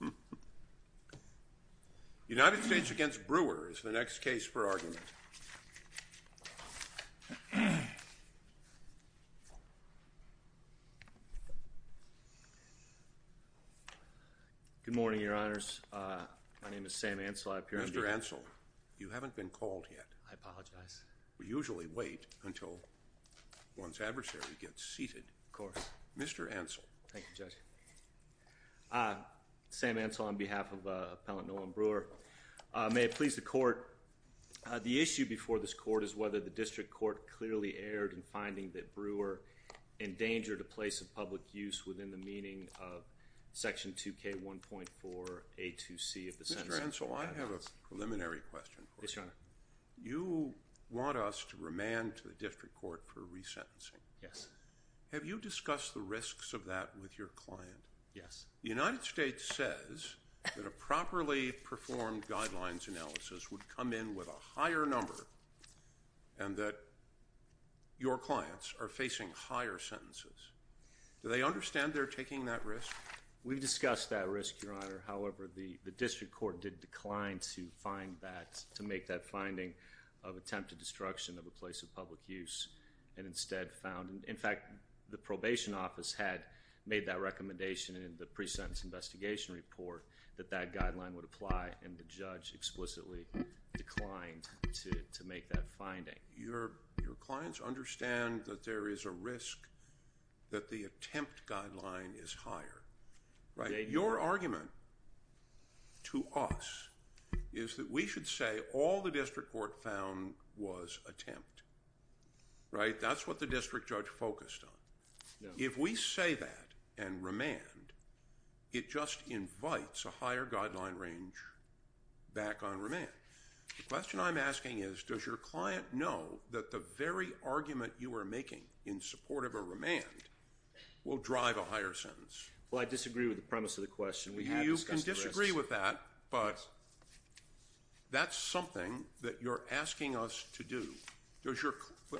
The United States v. Brewer is the next case for argument. Good morning, Your Honors. My name is Sam Ansell. I appear to be... Mr. Ansell, you haven't been called yet. I apologize. We usually wait until one's adversary gets seated. Of course. Mr. Ansell. Thank you, Judge. Sam Ansell on behalf of Appellant Nolan Brewer. May it please the Court, the issue before this Court is whether the District Court clearly erred in finding that Brewer endangered a place of public use within the meaning of Section 2K1.4A2C of the Sentencing for Adults. Mr. Ansell, I have a preliminary question for you. You want us to remand to the District Court for resentencing. Yes. Have you discussed the risks of that with your client? Yes. The United States says that a properly performed guidelines analysis would come in with a higher number and that your clients are facing higher sentences. Do they understand they're taking that risk? We've discussed that risk, Your Honor. However, the District Court did decline to find that, to make that finding of attempted destruction of a place of public use and instead found, in fact, the probation office had made that recommendation in the pre-sentence investigation report that that guideline would apply and the judge explicitly declined to make that finding. Your clients understand that there is a risk that the attempt guideline is higher, right? That's what the district judge focused on. If we say that and remand, it just invites a higher guideline range back on remand. The question I'm asking is, does your client know that the very argument you are making in support of a remand will drive a higher sentence? Well, I disagree with the premise of the question. You can disagree with that, but that's something that you're asking us to do.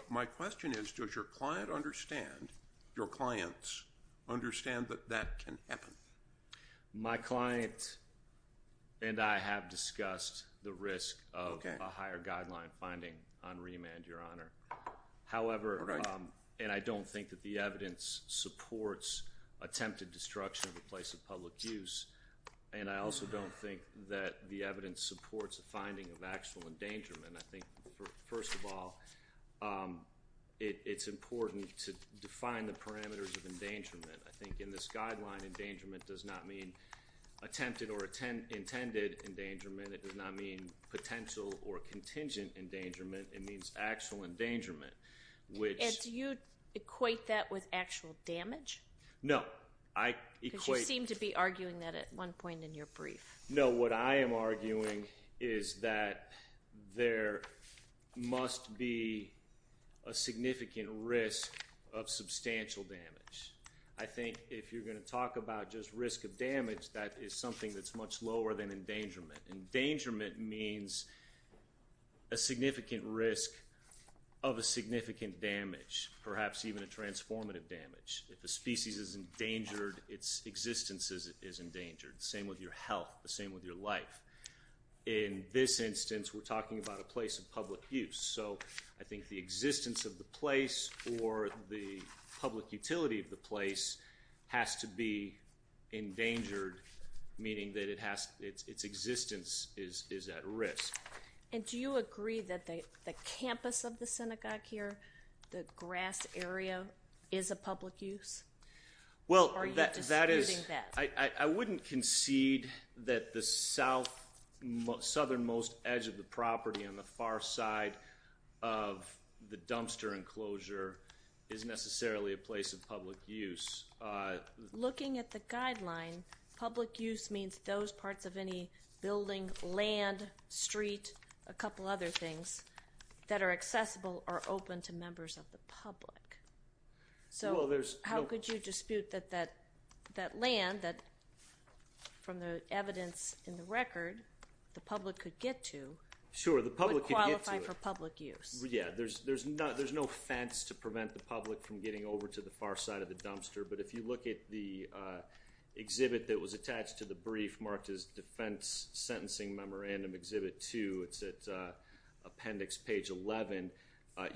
My question is, does your client understand, your clients, understand that that can happen? My client and I have discussed the risk of a higher guideline finding on remand, Your Honor. However, and I don't think that the evidence supports attempted destruction of a place of public use. And I also don't think that the evidence supports a finding of actual endangerment. I think, first of all, it's important to define the parameters of endangerment. I think in this guideline, endangerment does not mean attempted or intended endangerment. It does not mean potential or contingent endangerment. It means actual endangerment, which... And do you equate that with actual damage? No. I equate... Because you seem to be arguing that at one point in your brief. No, what I am arguing is that there must be a significant risk of substantial damage. I think if you're going to talk about just risk of damage, that is something that's much lower than endangerment. Endangerment means a significant risk of a significant damage, perhaps even a transformative damage. If a species is endangered, its existence is endangered. Same with your health. The same with your life. In this instance, we're talking about a place of public use. So I think the existence of the place or the public utility of the place has to be endangered, meaning that its existence is at risk. And do you agree that the campus of the synagogue here, the grass area, is a public use? Or are you disputing that? I wouldn't concede that the southernmost edge of the property on the far side of the dumpster enclosure is necessarily a place of public use. Looking at the guideline, public use means those parts of any building, land, street, a couple other things, that are accessible or open to members of the public. So how could you dispute that that land, from the evidence in the record, the public could get to, would qualify for public use? Yeah, there's no fence to prevent the public from getting over to the far side of the dumpster, but if you look at the exhibit that was attached to the brief marked as Defense Sentencing Memorandum Exhibit 2, it's at appendix page 11,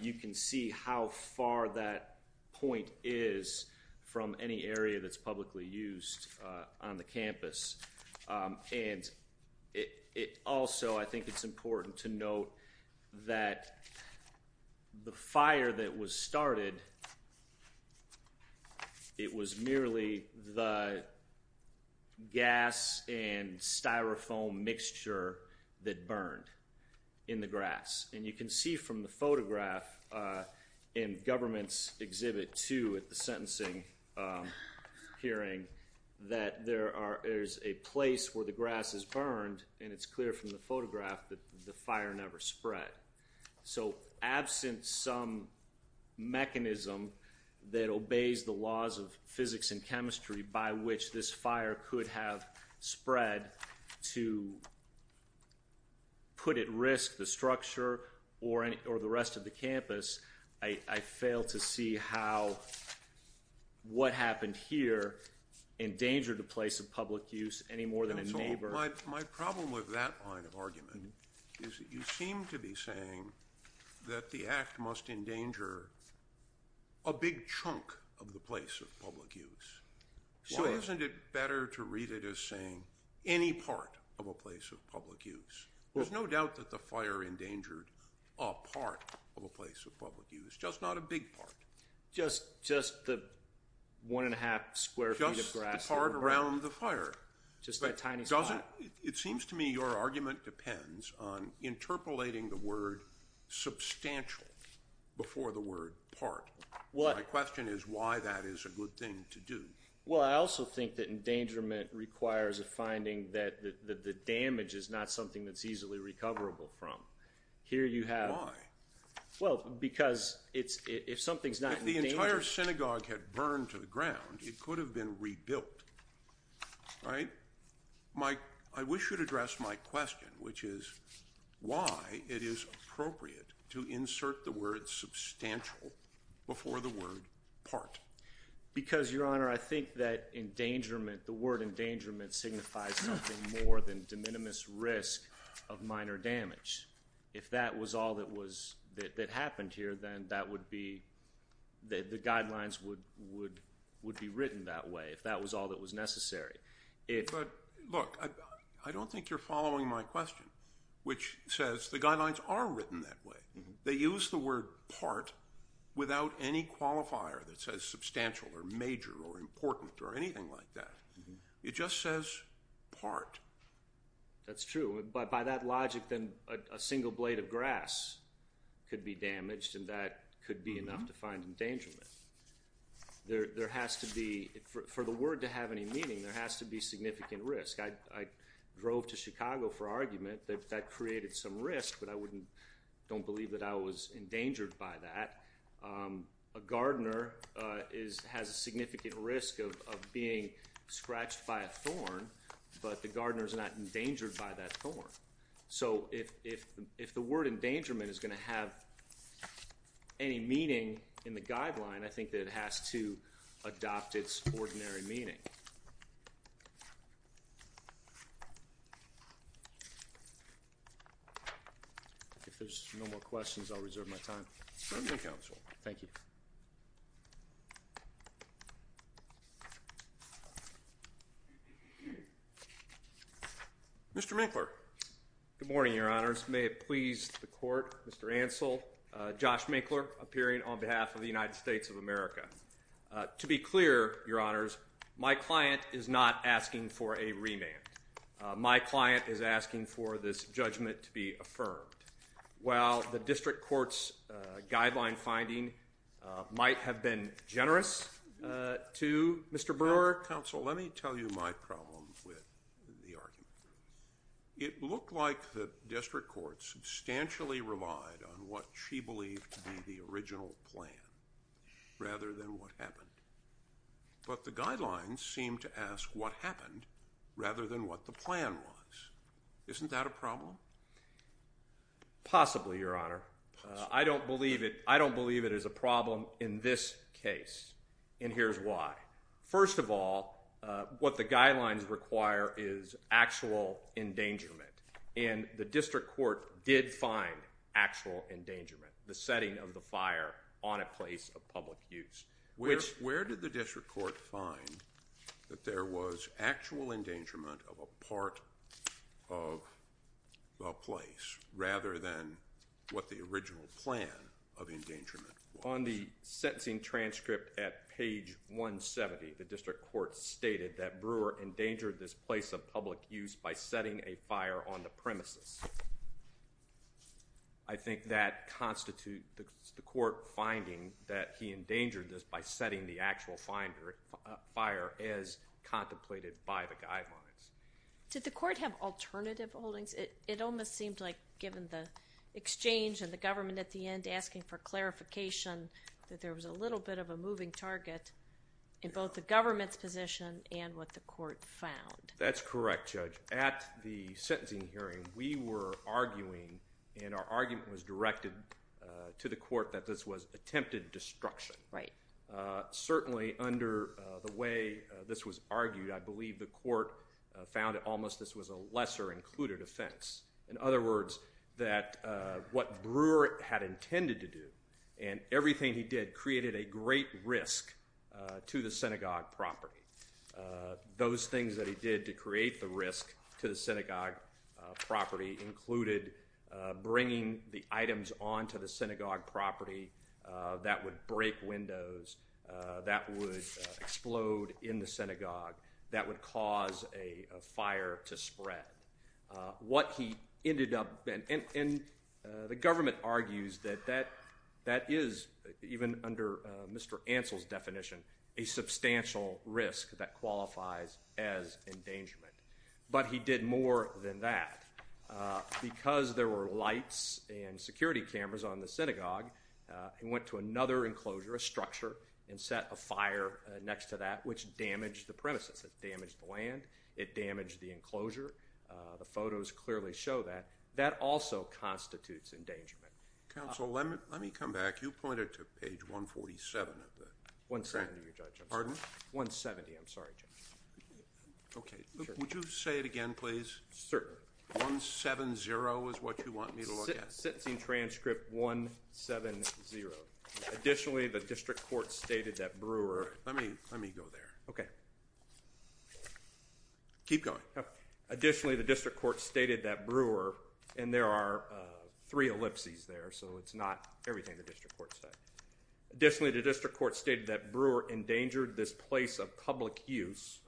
you can see how far that point is from any area that's publicly used on the campus. And it also, I think it's important to note that the fire that was started, it was merely the gas and styrofoam mixture that burned in the grass. And you can see from the photograph in Government's Exhibit 2 at the sentencing hearing that there is a place where the grass is burned, and it's clear from the photograph that the fire never spread. So absent some mechanism that obeys the laws of physics and chemistry by which this fire could have spread to put at risk the structure or the rest of the campus, I fail to see how what happened here endangered a place of public use any more than a neighbor. My problem with that line of argument is that you seem to be saying that the act must endanger a big chunk of the place of public use. Why? So isn't it better to read it as saying any part of a place of public use? There's no doubt that the fire endangered a part of a place of public use, just not a big part. Just the one and a half square feet of grass. Just the part around the fire. Just that tiny spot. It seems to me your argument depends on interpolating the word substantial before the word part. My question is why that is a good thing to do. Well, I also think that endangerment requires a finding that the damage is not something that's easily recoverable from. Here you have... Why? Why? Well, because if something's not endangered... If the entire synagogue had burned to the ground, it could have been rebuilt, right? I wish you'd address my question, which is why it is appropriate to insert the word substantial before the word part. Because your honor, I think that endangerment, the word endangerment signifies something more than de minimis risk of minor damage. If that was all that happened here, then that would be... The guidelines would be written that way if that was all that was necessary. But look, I don't think you're following my question, which says the guidelines are written that way. They use the word part without any qualifier that says substantial or major or important or anything like that. It just says part. That's true. By that logic, then a single blade of grass could be damaged and that could be enough to find endangerment. There has to be... For the word to have any meaning, there has to be significant risk. I drove to Chicago for argument that that created some risk, but I don't believe that I was endangered by that. A gardener has a significant risk of being scratched by a thorn, but the gardener's not a thorn. So, if the word endangerment is going to have any meaning in the guideline, I think that it has to adopt its ordinary meaning. If there's no more questions, I'll reserve my time. Thank you. Mr. Minkler. Good morning, Your Honors. May it please the Court, Mr. Ansel, Josh Minkler, appearing on behalf of the United States of America. To be clear, Your Honors, my client is not asking for a remand. My client is asking for this judgment to be affirmed. While the district court's guideline finding might have been generous to Mr. Brewer... Counsel, let me tell you my problem with the argument. It looked like the district court substantially relied on what she believed to be the original plan rather than what happened. But the guidelines seem to ask what happened rather than what the plan was. Isn't that a problem? Possibly, Your Honor. Possibly. I don't believe it is a problem in this case, and here's why. First of all, what the guidelines require is actual endangerment, and the district court did find actual endangerment, the setting of the fire on a place of public use. Where did the district court find that there was actual endangerment of a part of a place rather than what the original plan of endangerment was? On the sentencing transcript at page 170, the district court stated that Brewer endangered this place of public use by setting a fire on the premises. I think that constitutes the court finding that he endangered this by setting the actual fire as contemplated by the guidelines. Did the court have alternative holdings? It almost seemed like given the exchange and the government at the end asking for clarification that there was a little bit of a moving target in both the government's position and what the court found. That's correct, Judge. At the sentencing hearing, we were arguing, and our argument was directed to the court that this was attempted destruction. Certainly under the way this was argued, I believe the court found it almost this was a lesser included offense. In other words, that what Brewer had intended to do and everything he did created a great risk to the synagogue property. Those things that he did to create the risk to the synagogue property included bringing the items onto the synagogue property that would break windows, that would explode in the synagogue, that would cause a fire to spread. What he ended up, and the government argues that that is even under Mr. Ansel's definition a substantial risk that qualifies as endangerment. But he did more than that. Because there were lights and security cameras on the synagogue, he went to another enclosure, a structure, and set a fire next to that which damaged the premises. It damaged the land. It damaged the enclosure. The photos clearly show that. That also constitutes endangerment. Counsel, let me come back. You pointed to page 147 of the transcript. 170, Judge. I'm sorry. Pardon? 170. I'm sorry, Judge. Okay. Would you say it again, please? Certainly. 170 is what you want me to look at? It sits in transcript 170. Additionally, the district court stated that Brewer. All right. Let me go there. Okay. Keep going. Additionally, the district court stated that Brewer, and there are three ellipses there, so it's not everything the district court said. Additionally, the district court stated that Brewer endangered this place of public use,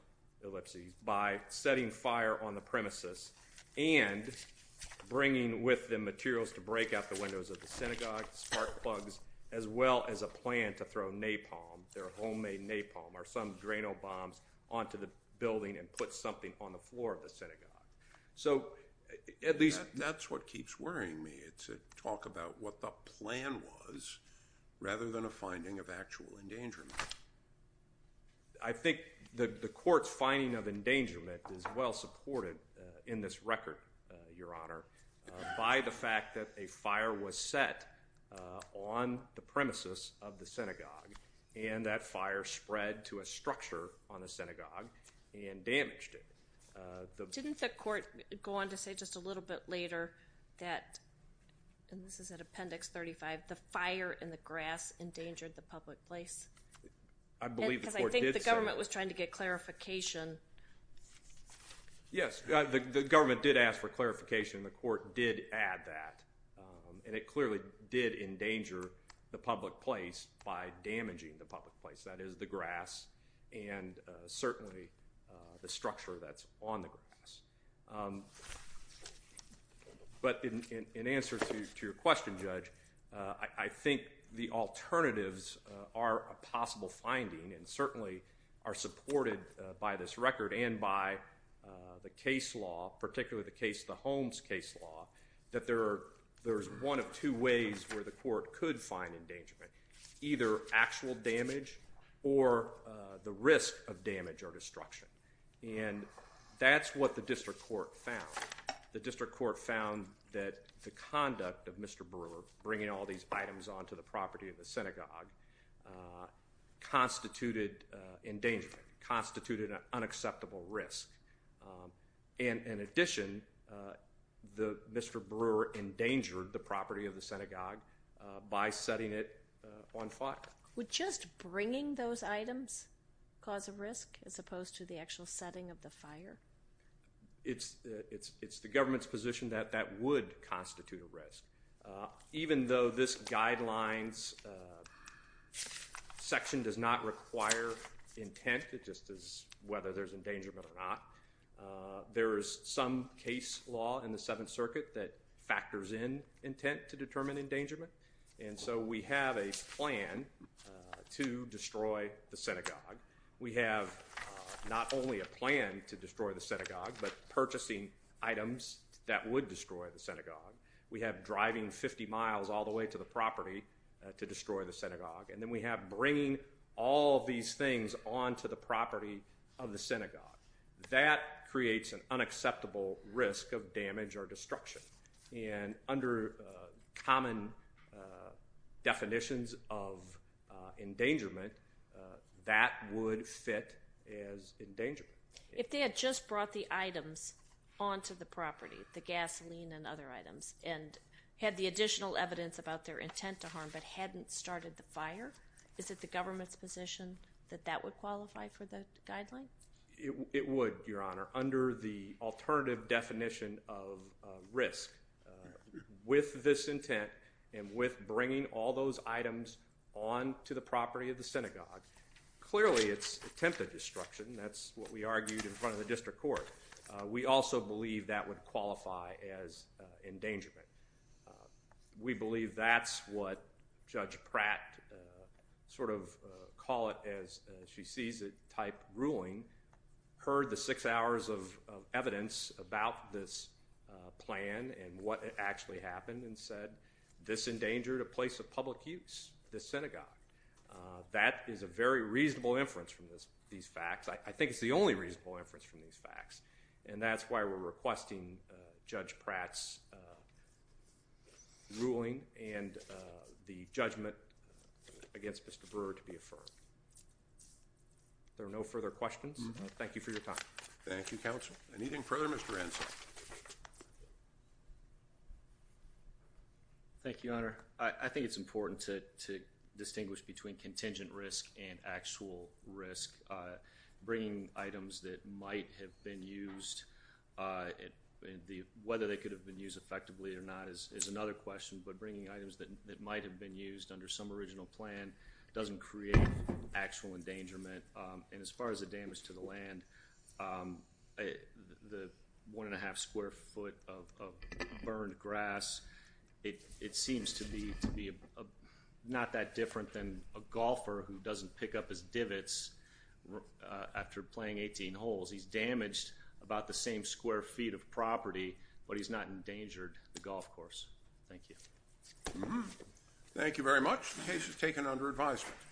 ellipses, by setting fire on the premises and bringing with them materials to break out the windows of the synagogue, spark plugs, as well as a plan to throw napalm, their homemade napalm, or some drain-o-bombs, onto the building and put something on the floor of the synagogue. So, at least. That's what keeps worrying me. It's a talk about what the plan was, rather than a finding of actual endangerment. I think the court's finding of endangerment is well supported in this record, Your Honor, by the fact that a fire was set on the premises of the synagogue, and that fire spread to a structure on the synagogue and damaged it. Didn't the court go on to say just a little bit later that, and this is at Appendix 35, the fire and the grass endangered the public place? I believe the court did say that. Because I think the government was trying to get clarification. Yes, the government did ask for clarification, and the court did add that. And it clearly did endanger the public place by damaging the public place. That is, the grass, and certainly the structure that's on the grass. But in answer to your question, Judge, I think the alternatives are a possible finding, and certainly are supported by this record and by the case law, particularly the case, the Holmes case law, that there's one of two ways where the court could find endangerment. Either actual damage or the risk of damage or destruction. And that's what the district court found. The district court found that the conduct of Mr. Brewer bringing all these items onto the property of the synagogue constituted endangerment, constituted an unacceptable risk. And in addition, Mr. Brewer endangered the property of the synagogue by setting it on fire. Would just bringing those items cause a risk as opposed to the actual setting of the fire? It's the government's position that that would constitute a risk. Even though this guidelines section does not require intent, it just is whether there's endangerment or not. There is some case law in the Seventh Circuit that factors in intent to determine endangerment. And so we have a plan to destroy the synagogue. We have not only a plan to destroy the synagogue, but purchasing items that would destroy the synagogue. We have driving 50 miles all the way to the property to destroy the synagogue. And then we have bringing all these things onto the property of the synagogue. That creates an unacceptable risk of damage or destruction. And under common definitions of endangerment, that would fit as endangerment. If they had just brought the items onto the property, the gasoline and other items, and had the additional evidence about their intent to harm, but hadn't started the fire, is it the government's position that that would qualify for the guidelines? It would, Your Honor. Under the alternative definition of risk, with this intent and with bringing all those items onto the property of the synagogue, clearly it's attempted destruction. That's what we argued in front of the district court. We also believe that would qualify as endangerment. We believe that's what Judge Pratt, sort of call it as she sees it type ruling, heard the six hours of evidence about this plan and what actually happened and said, this endangered a place of public use, the synagogue. That is a very reasonable inference from these facts. I think it's the only reasonable inference from these facts. And that's why we're requesting Judge Pratt's ruling and the judgment against Mr. Brewer to be affirmed. There are no further questions. Thank you for your time. Thank you, Counsel. Thank you, Your Honor. I think it's important to distinguish between contingent risk and actual risk. Bringing items that might have been used, whether they could have been used effectively or not is another question, but bringing items that might have been used under some original plan doesn't create actual endangerment. And as far as the damage to the land, the one and a half square foot of burned grass, it seems to be not that different than a golfer who doesn't pick up his divots after playing 18 holes. He's damaged about the same square feet of property, but he's not endangered the golf course. Thank you. Thank you very much. The case is taken under advisement.